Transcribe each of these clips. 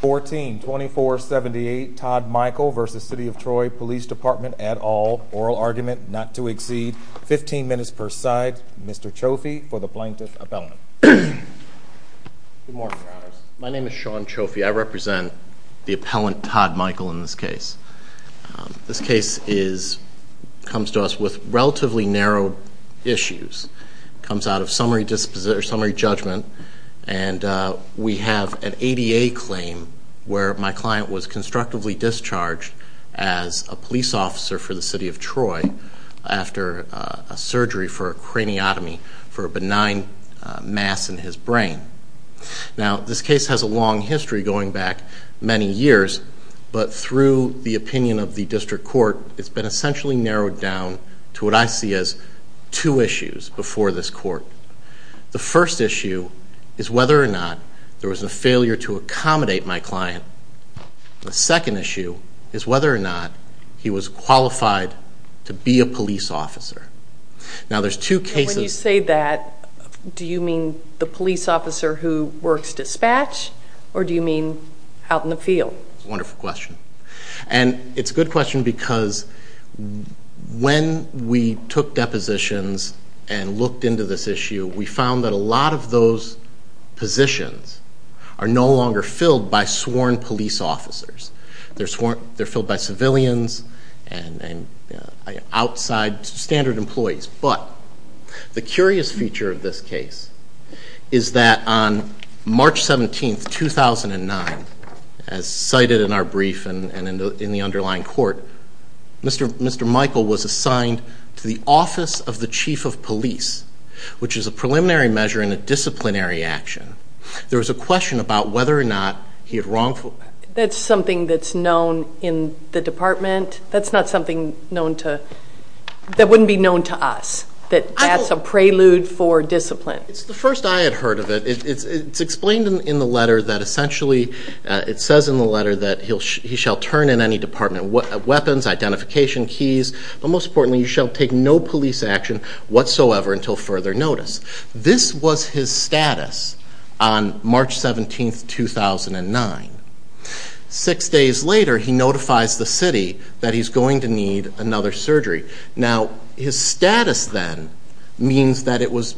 14 2478 Todd Michael v. City of Troy Police Department at all. Oral argument not to exceed 15 minutes per side. Mr. Cioffi for the plaintiff appellant. My name is Sean Cioffi. I represent the appellant Todd Michael in this case. This case is comes to us with relatively narrow issues. Comes out of summary judgment and we have an ADA claim where my client was constructively discharged as a police officer for the city of Troy after a surgery for a craniotomy for a benign mass in his brain. Now this case has a long history going back many years but through the opinion of the district court it's been essentially narrowed down to what I see as two issues before this court. The first issue is whether or not there was a failure to accommodate my client. The second issue is whether or not he was qualified to be a police officer. Now there's two cases. When you say that do you mean the police officer who works dispatch or do you mean out in the field? Wonderful question. And it's a good question because when we took depositions and looked into this issue we found that a lot of those positions are no longer filled by sworn police officers. They're filled by civilians and outside standard employees. But the curious feature of this case is that on March 17, 2009, as cited in our brief and in the underlying court, Mr. Michael was assigned to the office of the chief of police, which is a preliminary measure in a disciplinary action. There was a question about whether or not he had wrongful... That's something that's known in the department? That's not something known to... that wouldn't be known to us? That that's a it's explained in the letter that essentially it says in the letter that he shall turn in any department weapons, identification keys, but most importantly you shall take no police action whatsoever until further notice. This was his status on March 17, 2009. Six days later he notifies the city that he's going to need another surgery. Now his status then means that it was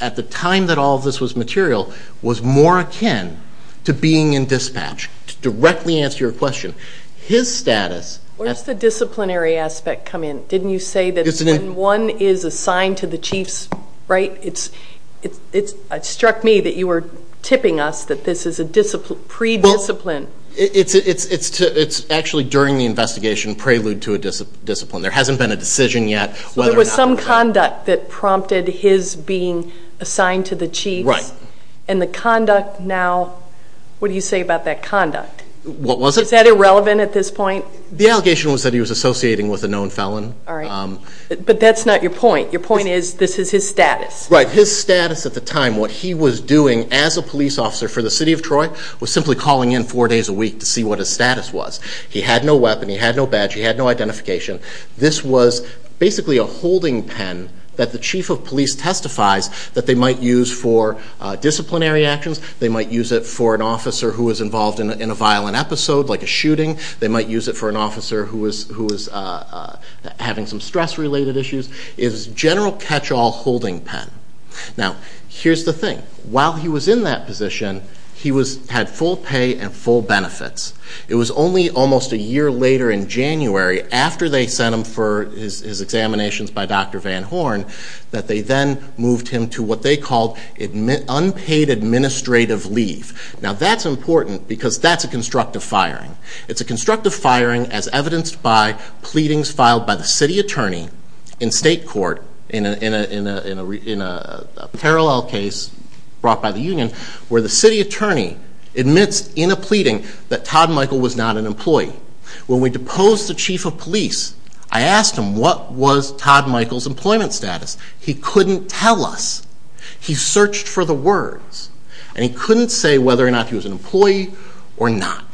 at the time that all this was material was more akin to being in dispatch, to directly answer your question. His status... Where does the disciplinary aspect come in? Didn't you say that when one is assigned to the chiefs, right, it's it's it struck me that you were tipping us that this is a discipline, pre-discipline. It's it's it's it's actually during the investigation prelude to a discipline. There hasn't been a decision yet whether or not... So there was some conduct that prompted his being assigned to the chiefs. Right. And the conduct now, what do you say about that conduct? What was it? Is that irrelevant at this point? The allegation was that he was associating with a known felon. All right, but that's not your point. Your point is this is his status. Right, his status at the time, what he was doing as a police officer for the city of Troy was simply calling in four days a week to see what his status was. He had no weapon, he had no badge, he had no weapon. The police testifies that they might use for disciplinary actions, they might use it for an officer who was involved in a violent episode like a shooting, they might use it for an officer who was who was having some stress-related issues. It was a general catch-all holding pen. Now here's the thing. While he was in that position, he was had full pay and full benefits. It was only almost a year later in January after they sent him for his examinations by Dr. Van Horn that they then moved him to what they called unpaid administrative leave. Now that's important because that's a constructive firing. It's a constructive firing as evidenced by pleadings filed by the city attorney in state court in a parallel case brought by the union where the city attorney admits in a pleading that Todd Michael was not an employee. When we asked Todd Michael's employment status, he couldn't tell us. He searched for the words and he couldn't say whether or not he was an employee or not.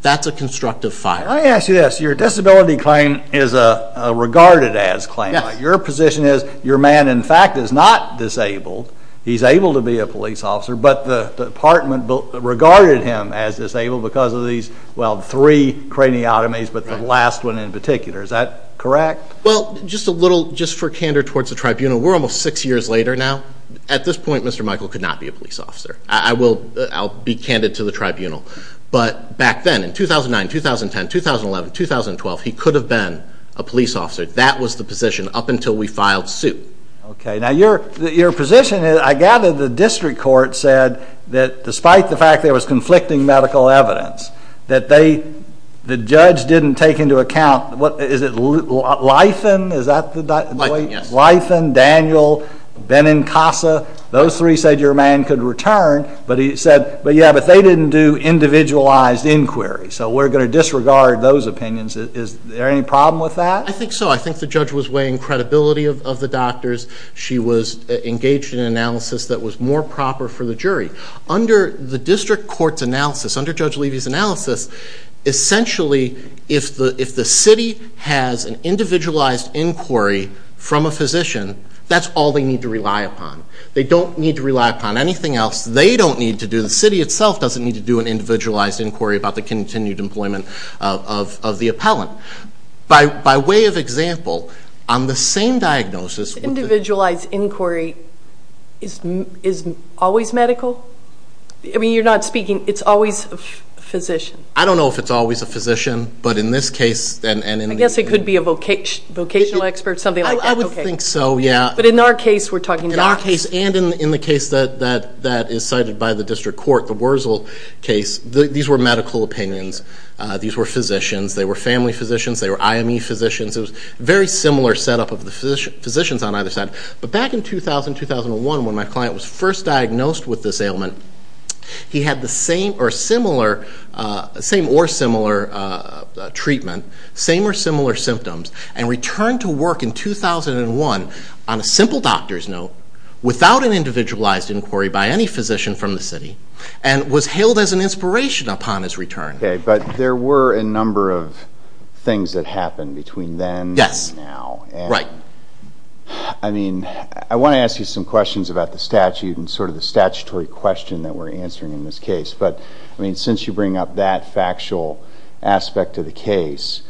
That's a constructive fire. Let me ask you this. Your disability claim is a regarded as claim. Your position is your man in fact is not disabled, he's able to be a police officer, but the department regarded him as disabled because of these, well, three craniotomies, but the last one in particular. Is that correct? Well, just a little, just for candor towards the tribunal, we're almost six years later now. At this point, Mr. Michael could not be a police officer. I will be candid to the tribunal, but back then in 2009, 2010, 2011, 2012, he could have been a police officer. That was the position up until we filed suit. Okay, now your position is, I gather the district court said that despite the fact there was the judge didn't take into account, what is it, Lytham, is that the? Lytham, yes. Lytham, Daniel, Benincasa, those three said your man could return, but he said, but yeah, but they didn't do individualized inquiries, so we're going to disregard those opinions. Is there any problem with that? I think so. I think the judge was weighing credibility of the doctors. She was engaged in an analysis that was more proper for the jury. Under the district court's analysis, under Judge Levy's analysis, essentially, if the city has an individualized inquiry from a physician, that's all they need to rely upon. They don't need to rely upon anything else. The city itself doesn't need to do an individualized inquiry about the continued employment of the appellant. By way of example, on the same diagnosis... Individualized inquiry is always medical? I mean, you're not speaking, it's always a physician? I don't know if it's always a physician, but in this case... I guess it could be a vocational expert, something like that. I would think so, yeah. But in our case, we're talking... In our case and in the case that is cited by the district court, the Wurzel case, these were medical opinions. These were physicians. They were family physicians. They were IME physicians. It was very similar setup of the physicians on either side. But back in 2000, 2001, when my client was first diagnosed with this ailment, he had the same or similar treatment, same or similar symptoms, and returned to work in 2001 on a simple doctor's note, without an individualized inquiry by any physician from the city, and was hailed as an inspiration upon his return. But there were a number of things that happened between then and now. I want to ask you some questions about the statute and sort of the statutory question that we're answering in this case. But since you bring up that factual aspect of the case,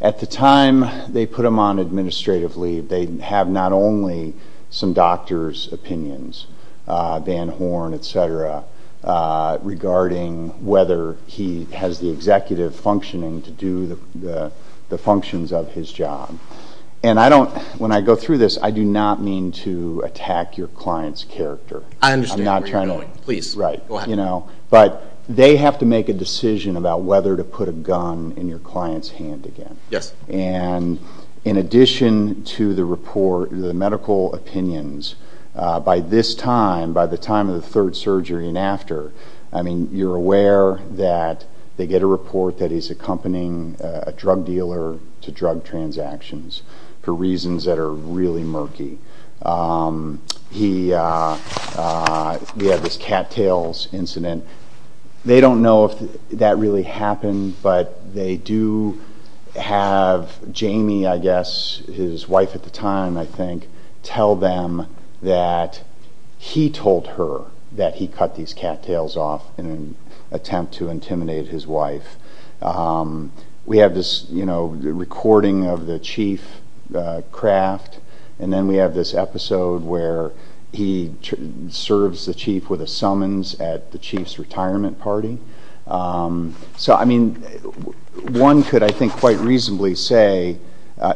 at the time they put him on administrative leave, they have not only some doctor's opinions, Van Horn, etc., regarding whether he has the ability to have the executive functioning to do the functions of his job. And I don't... When I go through this, I do not mean to attack your client's character. I understand where you're going. Please, go ahead. But they have to make a decision about whether to put a gun in your client's hand again. Yes. And in addition to the report, the medical opinions, by this time, by the time of the third surgery and after, I mean, you're aware that they get a report that he's accompanying a drug dealer to drug transactions for reasons that are really murky. We have this cattails incident. They don't know if that really happened, but they do have Jamie, I guess, his wife at the time, I think, tell them that he told her that he cut these cattails off in an attempt to intimidate his wife. We have this recording of the chief craft, and then we have this episode where he serves the chief with a summons at the chief's retirement party. So, I mean, one could, I think, quite reasonably say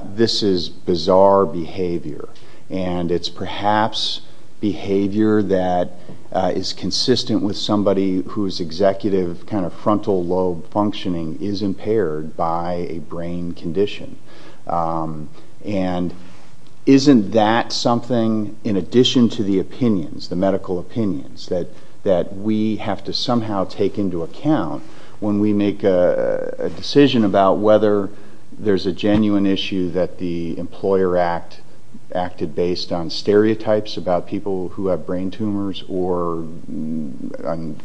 this is bizarre behavior. And it's perhaps behavior that is consistent with somebody whose executive kind of frontal lobe functioning is impaired by a brain condition. And isn't that something, in addition to the opinions, the medical opinions, that we have to somehow take into account when we make a decision about whether there's a genuine issue that the Employer Act acted based on stereotypes about people who have brain tumors or on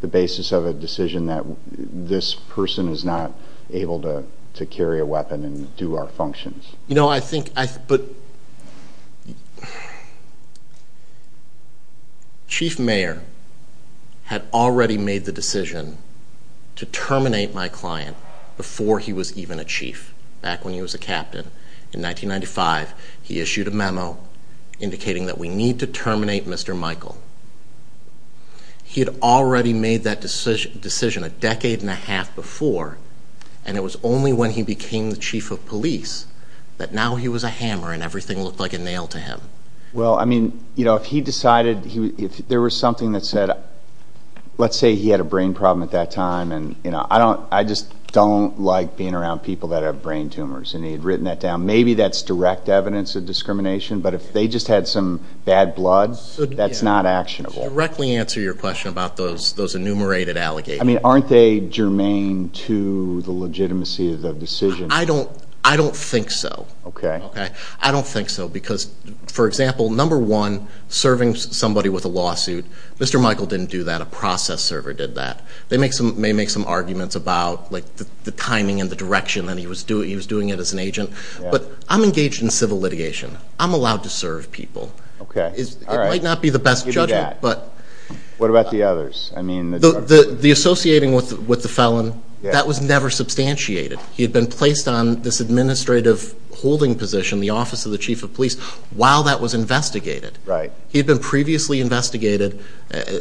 the basis of a decision that this person is not able to carry a weapon. You know, I think, but Chief Mayer had already made the decision to terminate my client before he was even a chief, back when he was a captain. In 1995, he issued a memo indicating that we need to terminate Mr. Michael. He had already made that decision a decade and a half before, and it was only when he became the chief of police that now he was a hammer and everything looked like a nail to him. Well, I mean, you know, if he decided, if there was something that said, let's say he had a brain problem at that time, and, you know, I just don't like being around people that have brain tumors, and he had written that down. Maybe that's direct evidence of discrimination, but if they just had some bad blood, that's not actionable. Directly answer your question about those enumerated allegations. I mean, aren't they germane to the legitimacy of the decision? I don't think so. Okay. I don't think so, because, for example, number one, serving somebody with a lawsuit, Mr. Michael didn't do that. A process server did that. They may make some arguments about, like, the timing and the direction that he was doing it as an agent, but I'm engaged in civil litigation. I'm allowed to serve people. Okay. All right. It might not be the best judgment. Give me that. What about the others? The associating with the felon, that was never substantiated. He had been placed on this administrative holding position, the office of the chief of police, while that was investigated. Right. He had been previously investigated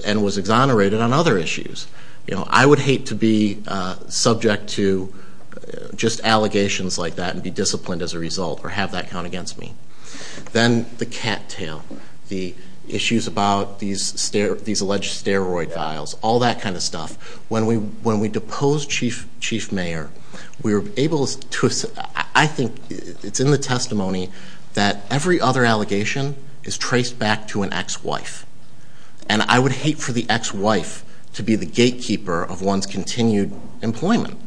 and was exonerated on other issues. You know, I would hate to be subject to just allegations like that and be disciplined as a result or have that count against me. Then the cattail, the issues about these alleged steroid vials, all that kind of stuff. When we deposed Chief Mayer, we were able to... I think it's in the testimony that every other allegation is traced back to an ex-wife. And I would hate for the ex-wife to be the gatekeeper of one's continued employment.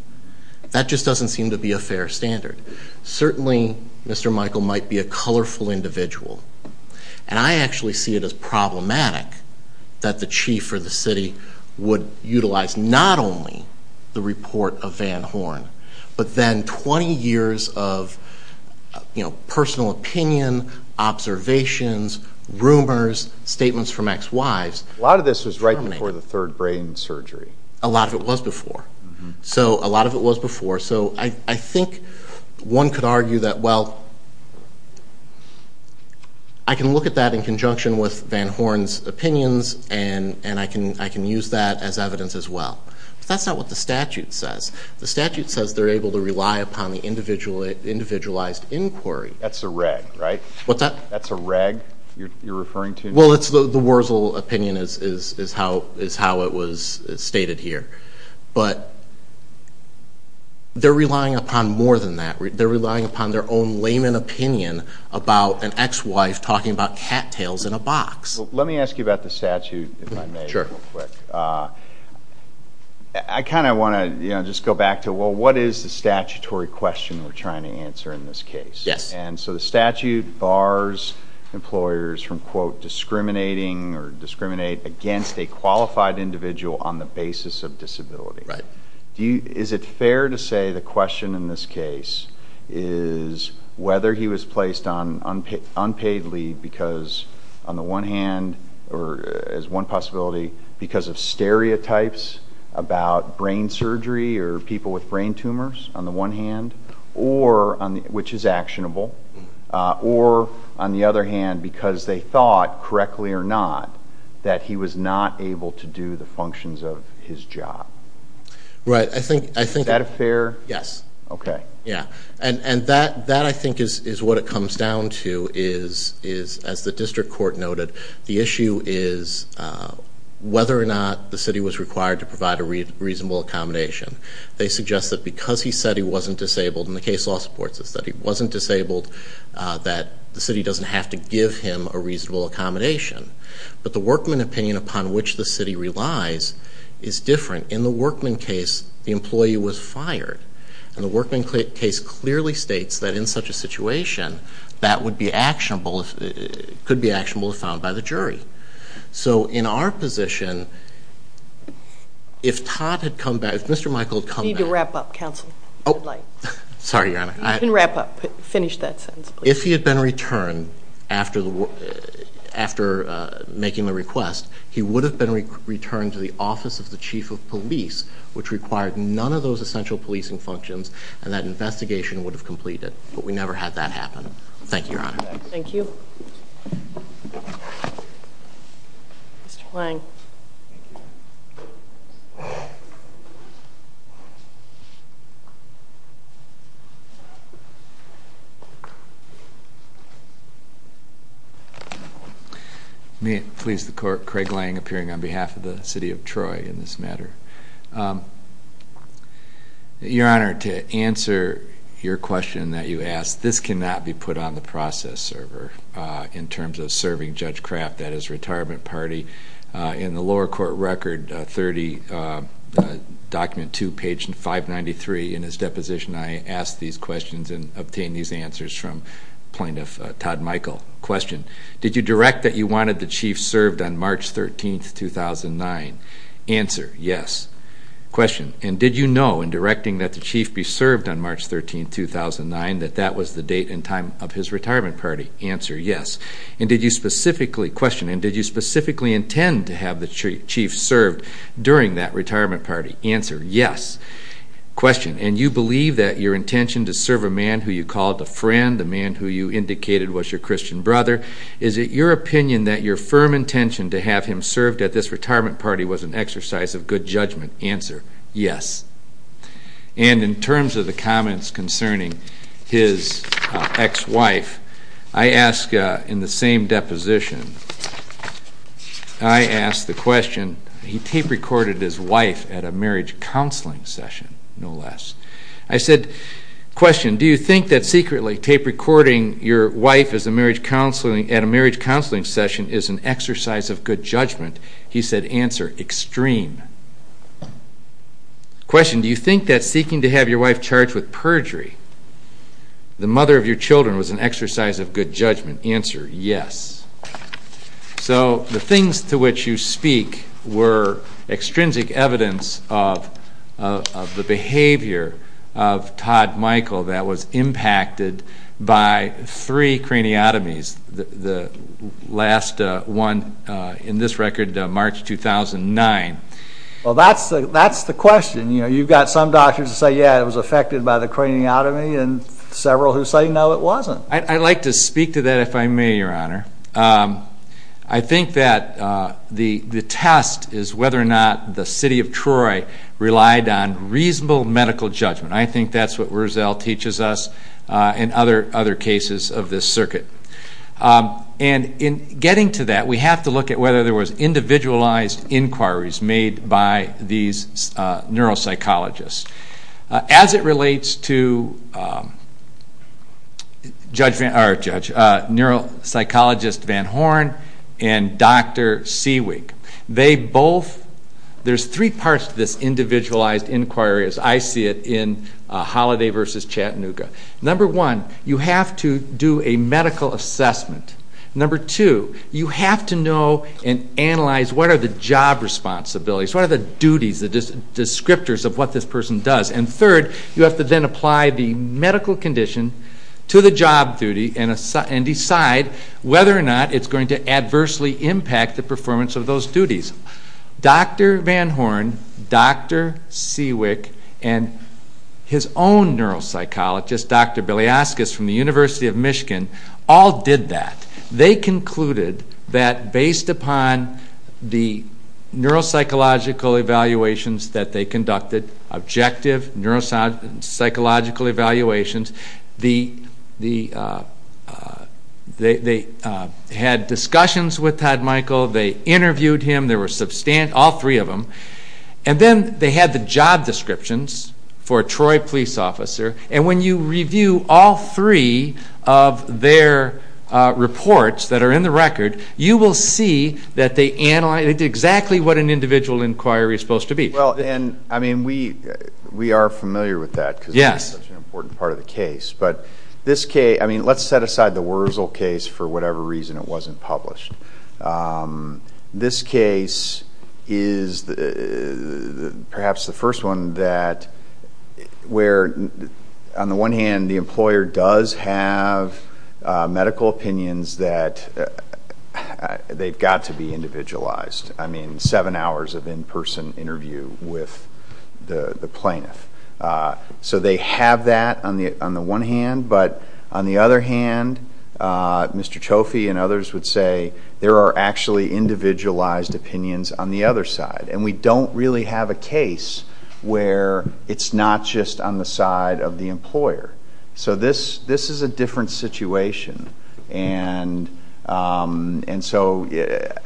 That just doesn't seem to be a fair standard. Certainly, Mr. Michael might be a colorful individual. And I actually see it as problematic that the chief or the city would utilize not only the report of Van Horn, but then 20 years of personal opinion, observations, rumors, statements from ex-wives. A lot of this was right before the third brain surgery. A lot of it was before. So a lot of it was before. So I think one could argue that, well, I can look at that in conjunction with Van Horn's opinions, and I can use that as evidence as well. But that's not what the statute says. The statute says they're able to rely upon the individualized inquiry. That's a reg, right? What's that? That's a reg you're referring to? Well, it's the Wurzel opinion is how it was stated here. But they're relying upon more than that. They're relying upon their own layman opinion about an ex-wife talking about cattails in a box. Well, let me ask you about the statute, if I may, real quick. Sure. I kind of want to just go back to, well, what is the statutory question we're trying to answer in this case? Yes. And so the statute bars employers from, quote, discriminating or discriminate against a qualified individual on the basis of disability. Right. Is it fair to say the question in this case is whether he was placed on unpaid leave because on the one hand or as one possibility because of stereotypes about brain surgery or people with brain tumors on the one hand which is actionable, or on the other hand because they thought, correctly or not, that he was not able to do the functions of his job? Right. Is that fair? Yes. Okay. Yeah. And that, I think, is what it comes down to is, as the district court noted, the issue is whether or not the city was required to provide a reasonable accommodation. They suggest that because he said he wasn't disabled, and the case law supports this, that he wasn't disabled, that the city doesn't have to give him a reasonable accommodation. But the workman opinion upon which the city relies is different. In the workman case, the employee was fired. And the workman case clearly states that in such a situation, that could be actionable if found by the jury. So in our position, if Todd had come back, if Mr. Michael had come back- You need to wrap up, counsel. Oh, sorry, Your Honor. You can wrap up. Finish that sentence, please. If he had been returned after making the request, he would have been returned to the office of the chief of police, which required none of those essential policing functions, and that investigation would have completed. But we never had that happen. Thank you, Your Honor. Thank you. Mr. Lange. May it please the Court, Craig Lange, appearing on behalf of the city of Troy in this matter. Your Honor, to answer your question that you asked, this cannot be put on the process server in terms of serving Judge Kraft, that is, retirement party. In the lower court record 30, document 2, page 593 in his deposition, I asked these questions and obtained these answers from Plaintiff Todd Michael. Question. Did you direct that you wanted the chief served on March 13, 2009? Answer. Yes. Question. And did you know in directing that the chief be served on March 13, 2009, that that was the date and time of his retirement party? Answer. Yes. Question. And did you specifically intend to have the chief served during that retirement party? Answer. Yes. Question. And you believe that your intention to serve a man who you called a friend, the man who you indicated was your Christian brother, is it your opinion that your firm intention to have him served at this retirement party was an exercise of good judgment? Answer. Yes. And in terms of the comments concerning his ex-wife, I ask in the same deposition, I ask the question, he tape recorded his wife at a marriage counseling session, no less. I said, question, do you think that secretly tape recording your wife at a marriage counseling session is an exercise of good judgment? He said, answer, extreme. Question. Do you think that seeking to have your wife charged with perjury, the mother of your children, was an exercise of good judgment? Answer. Yes. So the things to which you speak were extrinsic evidence of the behavior of Todd Michael that was impacted by three craniotomies. The last one in this record, March 2009. Well, that's the question. You've got some doctors that say, yeah, it was affected by the craniotomy, and several who say, no, it wasn't. I'd like to speak to that, if I may, Your Honor. I think that the test is whether or not the city of Troy relied on reasonable medical judgment. I think that's what Wurzel teaches us in other cases of this circuit. In getting to that, we have to look at whether there was individualized inquiries made by these neuropsychologists. As it relates to neuropsychologist Van Horn and Dr. Seawig, there's three parts to this individualized inquiry as I see it in Holliday v. Chattanooga. Number one, you have to do a medical assessment. Number two, you have to know and analyze what are the job responsibilities, what are the duties, the descriptors of what this person does. And third, you have to then apply the medical condition to the job duty and decide whether or not it's going to adversely impact the performance of those duties. Dr. Van Horn, Dr. Seawig, and his own neuropsychologist, Dr. Bilyaskis from the University of Michigan, all did that. They concluded that based upon the neuropsychological evaluations that they conducted, objective neuropsychological evaluations, they had discussions with Todd Michael, they interviewed him, all three of them. And then they had the job descriptions for a Troy police officer. And when you review all three of their reports that are in the record, you will see that they analyzed exactly what an individual inquiry is supposed to be. Well, and, I mean, we are familiar with that because it's such an important part of the case. But this case, I mean, let's set aside the Wurzel case for whatever reason it wasn't published. This case is perhaps the first one that where, on the one hand, the employer does have medical opinions that they've got to be individualized. I mean, seven hours of in-person interview with the plaintiff. So they have that on the one hand. But on the other hand, Mr. Trophy and others would say there are actually individualized opinions on the other side. And we don't really have a case where it's not just on the side of the employer. So this is a different situation. And so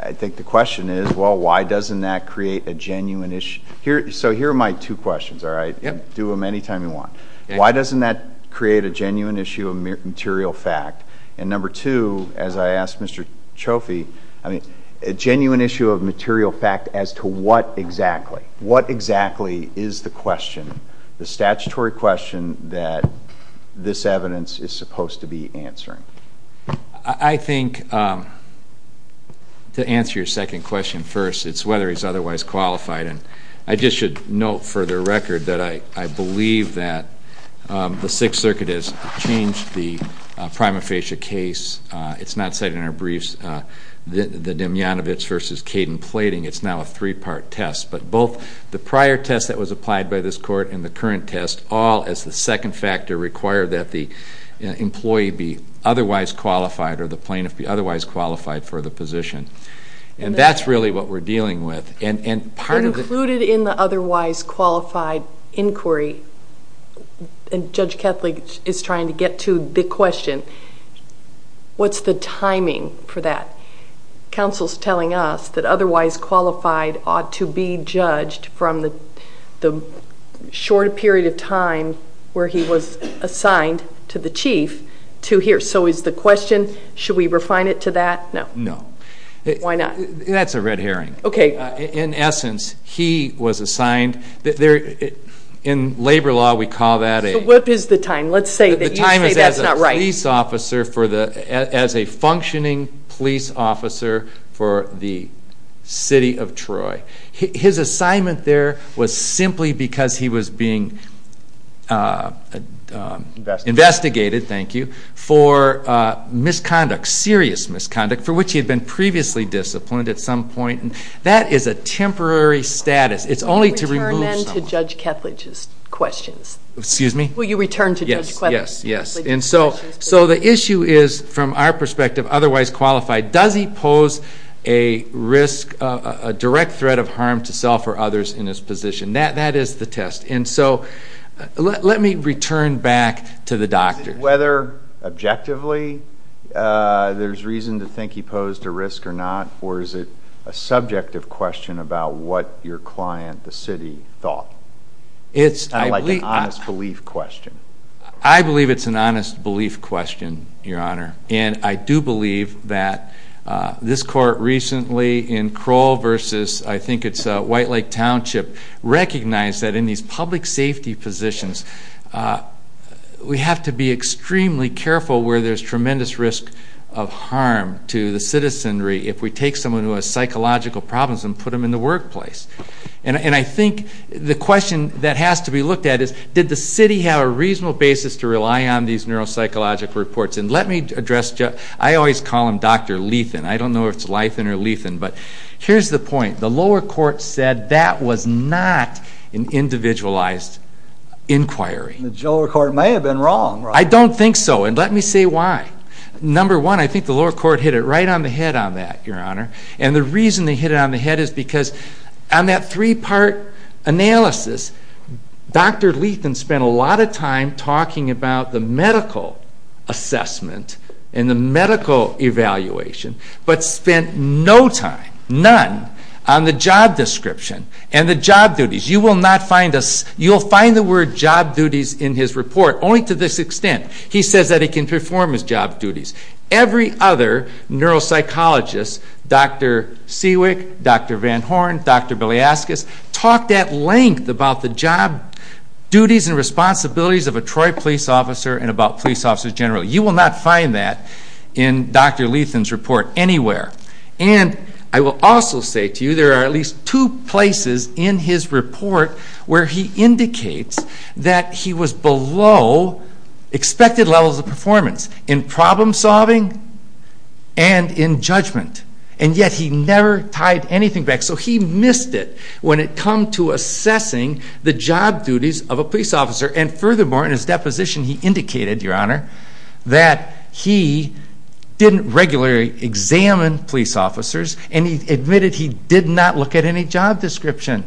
I think the question is, well, why doesn't that create a genuine issue? So here are my two questions, all right? Do them any time you want. Why doesn't that create a genuine issue of material fact? And number two, as I asked Mr. Trophy, I mean, a genuine issue of material fact as to what exactly? What exactly is the question, the statutory question that this evidence is supposed to be answering? I think to answer your second question first, it's whether he's otherwise qualified. And I just should note for the record that I believe that the Sixth Circuit has changed the prima facie case. It's not cited in our briefs, the Demyanovich versus Caden plating. It's now a three-part test. But both the prior test that was applied by this court and the current test all, as the second factor, require that the employee be otherwise qualified or the plaintiff be otherwise qualified for the position. And that's really what we're dealing with. Included in the otherwise qualified inquiry, and Judge Kethley is trying to get to the question, what's the timing for that? Counsel's telling us that otherwise qualified ought to be judged from the short period of time where he was assigned to the chief to here. So is the question, should we refine it to that? No. No. Why not? That's a red herring. Okay. In essence, he was assigned. In labor law, we call that a... What is the time? Let's say that you say that's not right. As a functioning police officer for the city of Troy. His assignment there was simply because he was being investigated, thank you, for misconduct, serious misconduct, for which he had been previously disciplined at some point. That is a temporary status. It's only to remove someone. Will you return then to Judge Kethley's questions? Will you return to Judge Kethley's questions? Yes. So the issue is, from our perspective, otherwise qualified, does he pose a risk, a direct threat of harm to self or others in his position? That is the test. And so let me return back to the doctors. Whether objectively there's reason to think he posed a risk or not, or is it a subjective question about what your client, the city, thought? It's kind of like an honest belief question. I believe it's an honest belief question, Your Honor. And I do believe that this court recently in Crowell versus, I think it's White Lake Township, recognized that in these public safety positions, we have to be extremely careful where there's tremendous risk of harm to the citizenry if we take someone who has psychological problems and put them in the workplace. And I think the question that has to be looked at is, did the city have a reasonable basis to rely on these neuropsychological reports? And let me address, I always call him Dr. Lethan. I don't know if it's Lythan or Lethan, but here's the point. The lower court said that was not an individualized inquiry. The lower court may have been wrong. I don't think so, and let me say why. Number one, I think the lower court hit it right on the head on that, Your Honor. And the reason they hit it on the head is because on that three-part analysis, Dr. Lethan spent a lot of time talking about the medical assessment and the medical evaluation, but spent no time, none, on the job description and the job duties. You will find the word job duties in his report, only to this extent. He says that he can perform his job duties. Every other neuropsychologist, Dr. Sewick, Dr. Van Horn, Dr. Bilyaskis, talked at length about the job duties and responsibilities of a Troy police officer and about police officers generally. You will not find that in Dr. Lethan's report anywhere. And I will also say to you there are at least two places in his report where he indicates that he was below expected levels of performance. In problem solving and in judgment, and yet he never tied anything back. So he missed it when it come to assessing the job duties of a police officer. And furthermore, in his deposition, he indicated, Your Honor, that he didn't regularly examine police officers, and he admitted he did not look at any job description.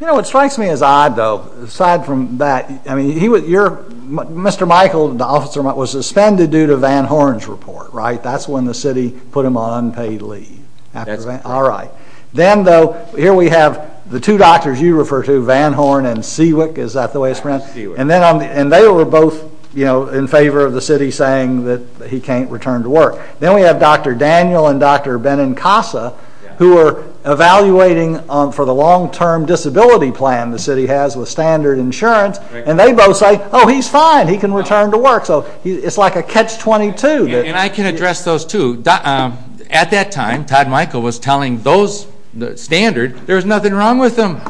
You know, what strikes me as odd, though, aside from that, Mr. Michael, the officer, was suspended due to Van Horn's report, right? That's when the city put him on unpaid leave. That's right. All right. Then, though, here we have the two doctors you refer to, Van Horn and Sewick. Is that the way it's pronounced? Sewick. And they were both in favor of the city saying that he can't return to work. Then we have Dr. Daniel and Dr. Benincasa, who were evaluating for the long-term disability plan the city has with standard insurance, and they both say, Oh, he's fine. He can return to work. So it's like a catch-22. And I can address those two. At that time, Todd Michael was telling those standards there was nothing wrong with them.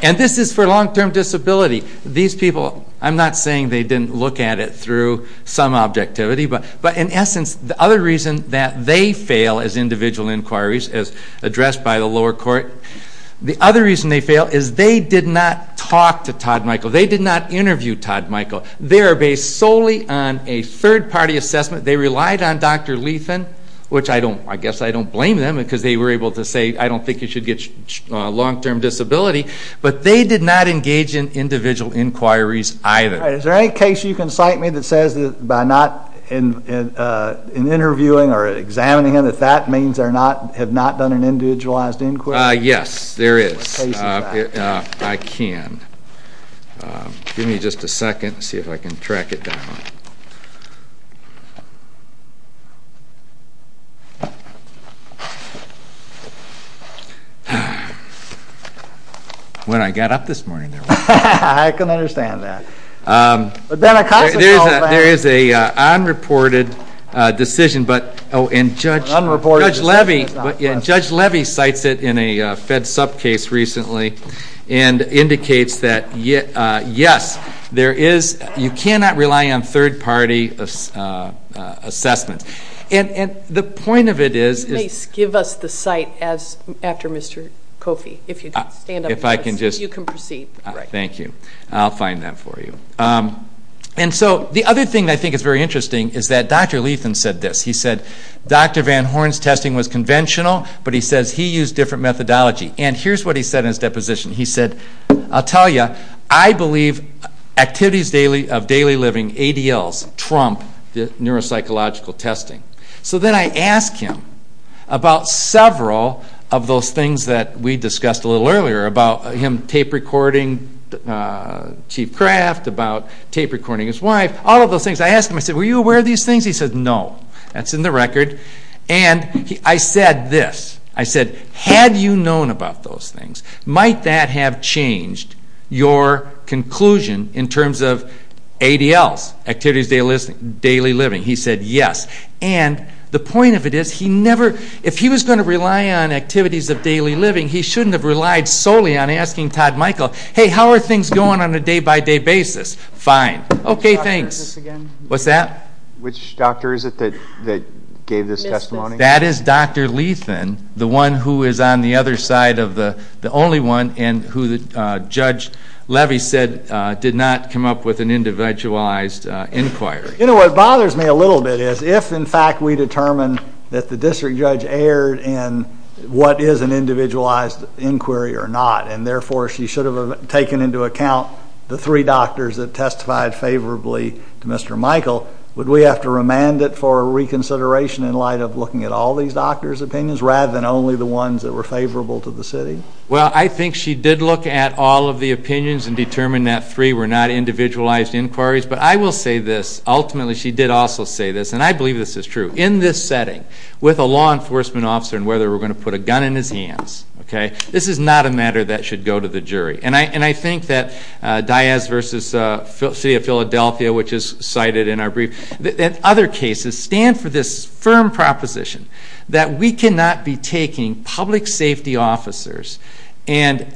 And this is for long-term disability. These people, I'm not saying they didn't look at it through some objectivity, but, in essence, the other reason that they fail as individual inquiries, as addressed by the lower court, the other reason they fail is they did not talk to Todd Michael. They did not interview Todd Michael. They are based solely on a third-party assessment. They relied on Dr. Lethan, which I guess I don't blame them because they were able to say, I don't think you should get long-term disability. But they did not engage in individual inquiries either. All right. Is there any case you can cite me that says that by not interviewing or examining him, that that means they have not done an individualized inquiry? Yes, there is. I can. Give me just a second to see if I can track it down. When I got up this morning, there was none. I can understand that. There is an unreported decision, but Judge Levy cites it in a fed sub-case recently and indicates that, yes, you cannot rely on third-party assessments. And the point of it is... Please give us the cite after Mr. Kofi, if you'd stand up so you can proceed. Thank you. I'll find that for you. And so the other thing that I think is very interesting is that Dr. Lethan said this. He said, Dr. Van Horn's testing was conventional, but he says he used different methodology. And here's what he said in his deposition. He said, I'll tell you, I believe activities of daily living, ADLs, trump the neuropsychological testing. So then I asked him about several of those things that we discussed a little earlier, about him tape recording Chief Kraft, about tape recording his wife, all of those things. I asked him, I said, were you aware of these things? He said, no. That's in the record. And I said this. I said, had you known about those things, might that have changed your conclusion in terms of ADLs, activities of daily living? He said, yes. And the point of it is, if he was going to rely on activities of daily living, he shouldn't have relied solely on asking Todd Michael, hey, how are things going on a day-by-day basis? Fine. Okay, thanks. What's that? Which doctor is it that gave this testimony? That is Dr. Lethan, the one who is on the other side of the only one, and who Judge Levy said did not come up with an individualized inquiry. You know, what bothers me a little bit is, if in fact we determine that the district judge erred in what is an individualized inquiry or not, and therefore she should have taken into account the three doctors that testified favorably to Mr. Michael, would we have to remand it for reconsideration in light of looking at all these doctors' opinions rather than only the ones that were favorable to the city? Well, I think she did look at all of the opinions and determine that three were not individualized inquiries. But I will say this, ultimately she did also say this, and I believe this is true. In this setting, with a law enforcement officer and whether we're going to put a gun in his hands, this is not a matter that should go to the jury. And I think that Diaz v. City of Philadelphia, which is cited in our brief, and other cases stand for this firm proposition that we cannot be taking public safety officers and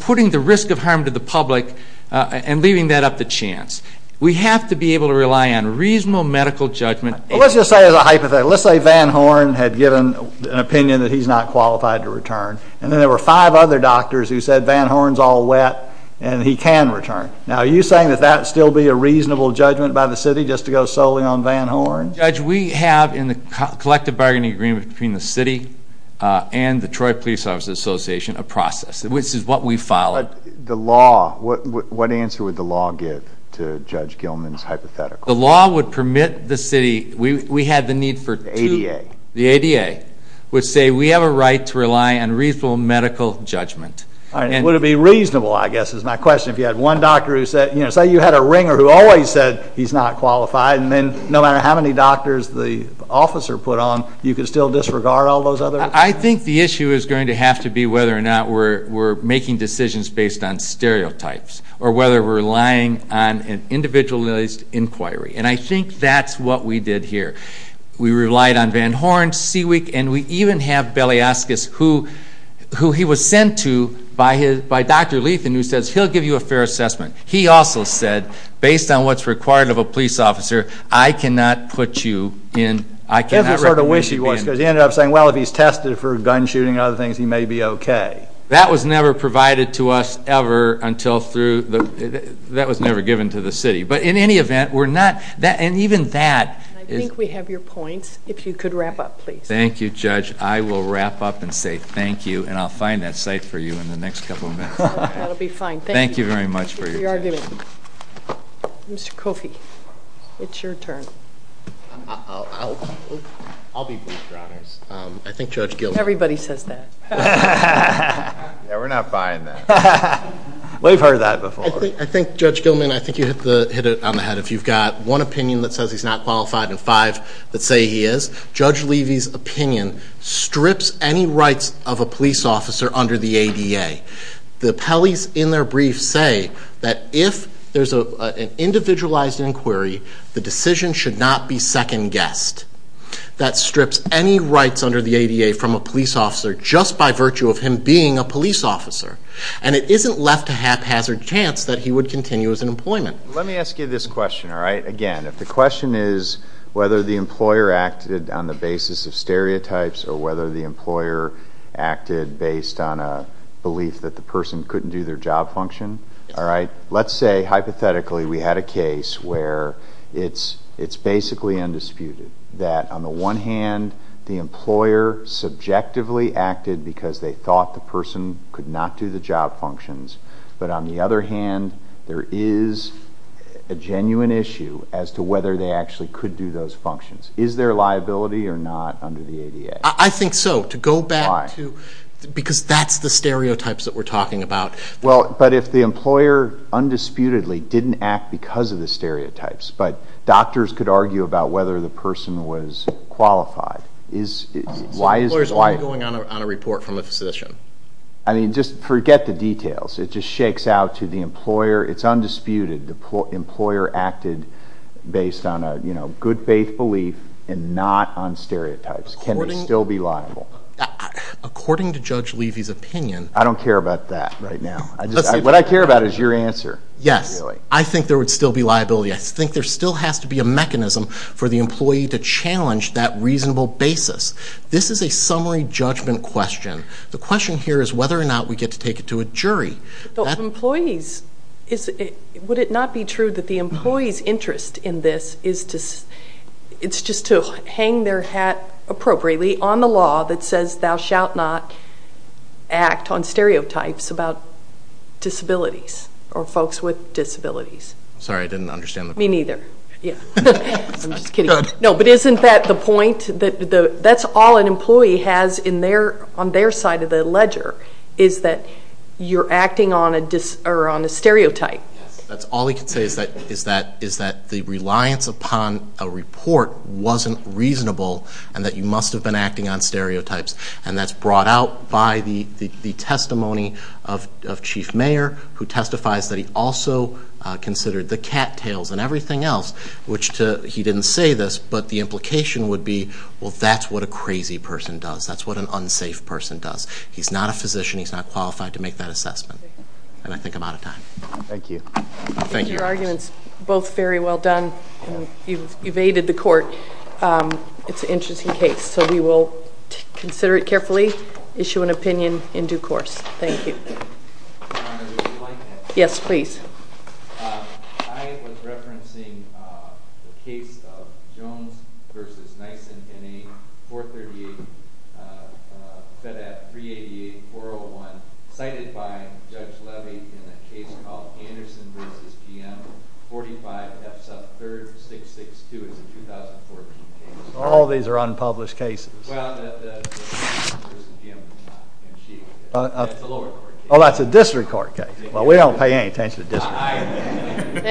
putting the risk of harm to the public and leaving that up to chance. We have to be able to rely on reasonable medical judgment. Well, let's just say as a hypothetical. Let's say Van Horn had given an opinion that he's not qualified to return, and then there were five other doctors who said Van Horn's all wet and he can return. Now, are you saying that that would still be a reasonable judgment by the city just to go solely on Van Horn? Judge, we have in the collective bargaining agreement between the city and the Detroit Police Officers Association a process, which is what we followed. But the law, what answer would the law give to Judge Gilman's hypothetical? The law would permit the city, we had the need for two. The ADA. The ADA would say we have a right to rely on reasonable medical judgment. Would it be reasonable, I guess, is my question. If you had one doctor who said, say you had a ringer who always said he's not qualified, and then no matter how many doctors the officer put on, you could still disregard all those others? I think the issue is going to have to be whether or not we're making decisions based on stereotypes or whether we're relying on an individualized inquiry. And I think that's what we did here. We relied on Van Horn, Seawick, and we even have Belyaskis, who he was sent to by Dr. Lethan, who says he'll give you a fair assessment. He also said, based on what's required of a police officer, I cannot put you in, I cannot recommend you in. That's the sort of wish he was, because he ended up saying, well, if he's tested for gun shooting and other things, he may be okay. That was never provided to us ever until through, that was never given to the city. But in any event, we're not, and even that. I think we have your points. If you could wrap up, please. Thank you, Judge. I will wrap up and say thank you, and I'll find that site for you in the next couple of minutes. That'll be fine. Thank you very much for your time. Thank you for your argument. Mr. Kofi, it's your turn. I'll be brief, Your Honors. I think Judge Gilman Everybody says that. Yeah, we're not buying that. We've heard that before. I think, Judge Gilman, I think you hit it on the head. If you've got one opinion that says he's not qualified and five that say he is, Judge Levy's opinion strips any rights of a police officer under the ADA. The Pelley's in their brief say that if there's an individualized inquiry, the decision should not be second-guessed. That strips any rights under the ADA from a police officer just by virtue of him being a police officer. And it isn't left to haphazard chance that he would continue his employment. Let me ask you this question, all right? Again, if the question is whether the employer acted on the basis of stereotypes or whether the employer acted based on a belief that the person couldn't do their job function, all right? Let's say, hypothetically, we had a case where it's basically undisputed that on the one hand, the employer subjectively acted because they thought the person could not do the job functions. But on the other hand, there is a genuine issue as to whether they actually could do those functions. Is there liability or not under the ADA? I think so. Why? To go back to because that's the stereotypes that we're talking about. Well, but if the employer undisputedly didn't act because of the stereotypes, but doctors could argue about whether the person was qualified, why is it? The employer is only going on a report from a physician. I mean, just forget the details. It just shakes out to the employer. It's undisputed. The employer acted based on a good faith belief and not on stereotypes. Can they still be liable? According to Judge Levy's opinion. I don't care about that right now. What I care about is your answer. Yes. I think there would still be liability. I think there still has to be a mechanism for the employee to challenge that reasonable basis. This is a summary judgment question. The question here is whether or not we get to take it to a jury. Employees. Would it not be true that the employee's interest in this is just to hang their hat appropriately on the law that says thou shalt not act on stereotypes about disabilities or folks with disabilities? Sorry, I didn't understand. Me neither. I'm just kidding. No, but isn't that the point? That's all an employee has on their side of the ledger is that you're acting on a stereotype. Yes, that's all he can say is that the reliance upon a report wasn't reasonable and that you must have been acting on stereotypes. And that's brought out by the testimony of Chief Mayer, who testifies that he also considered the cattails and everything else, which he didn't say this, but the implication would be, well, that's what a crazy person does. That's what an unsafe person does. He's not a physician. He's not qualified to make that assessment. And I think I'm out of time. Thank you. Your argument is both very well done. You've aided the court. It's an interesting case, so we will consider it carefully, issue an opinion in due course. Thank you. Yes, please. I was referencing the case of Jones v. Nyssen in a 438 FEDAD 388-401 cited by Judge Levy in a case called Anderson v. GM 45 F sub 3662. It's a 2014 case. All these are unpublished cases. Well, that's a lower court case. Oh, that's a district court case. Well, we don't pay any attention to district. No. Thank you.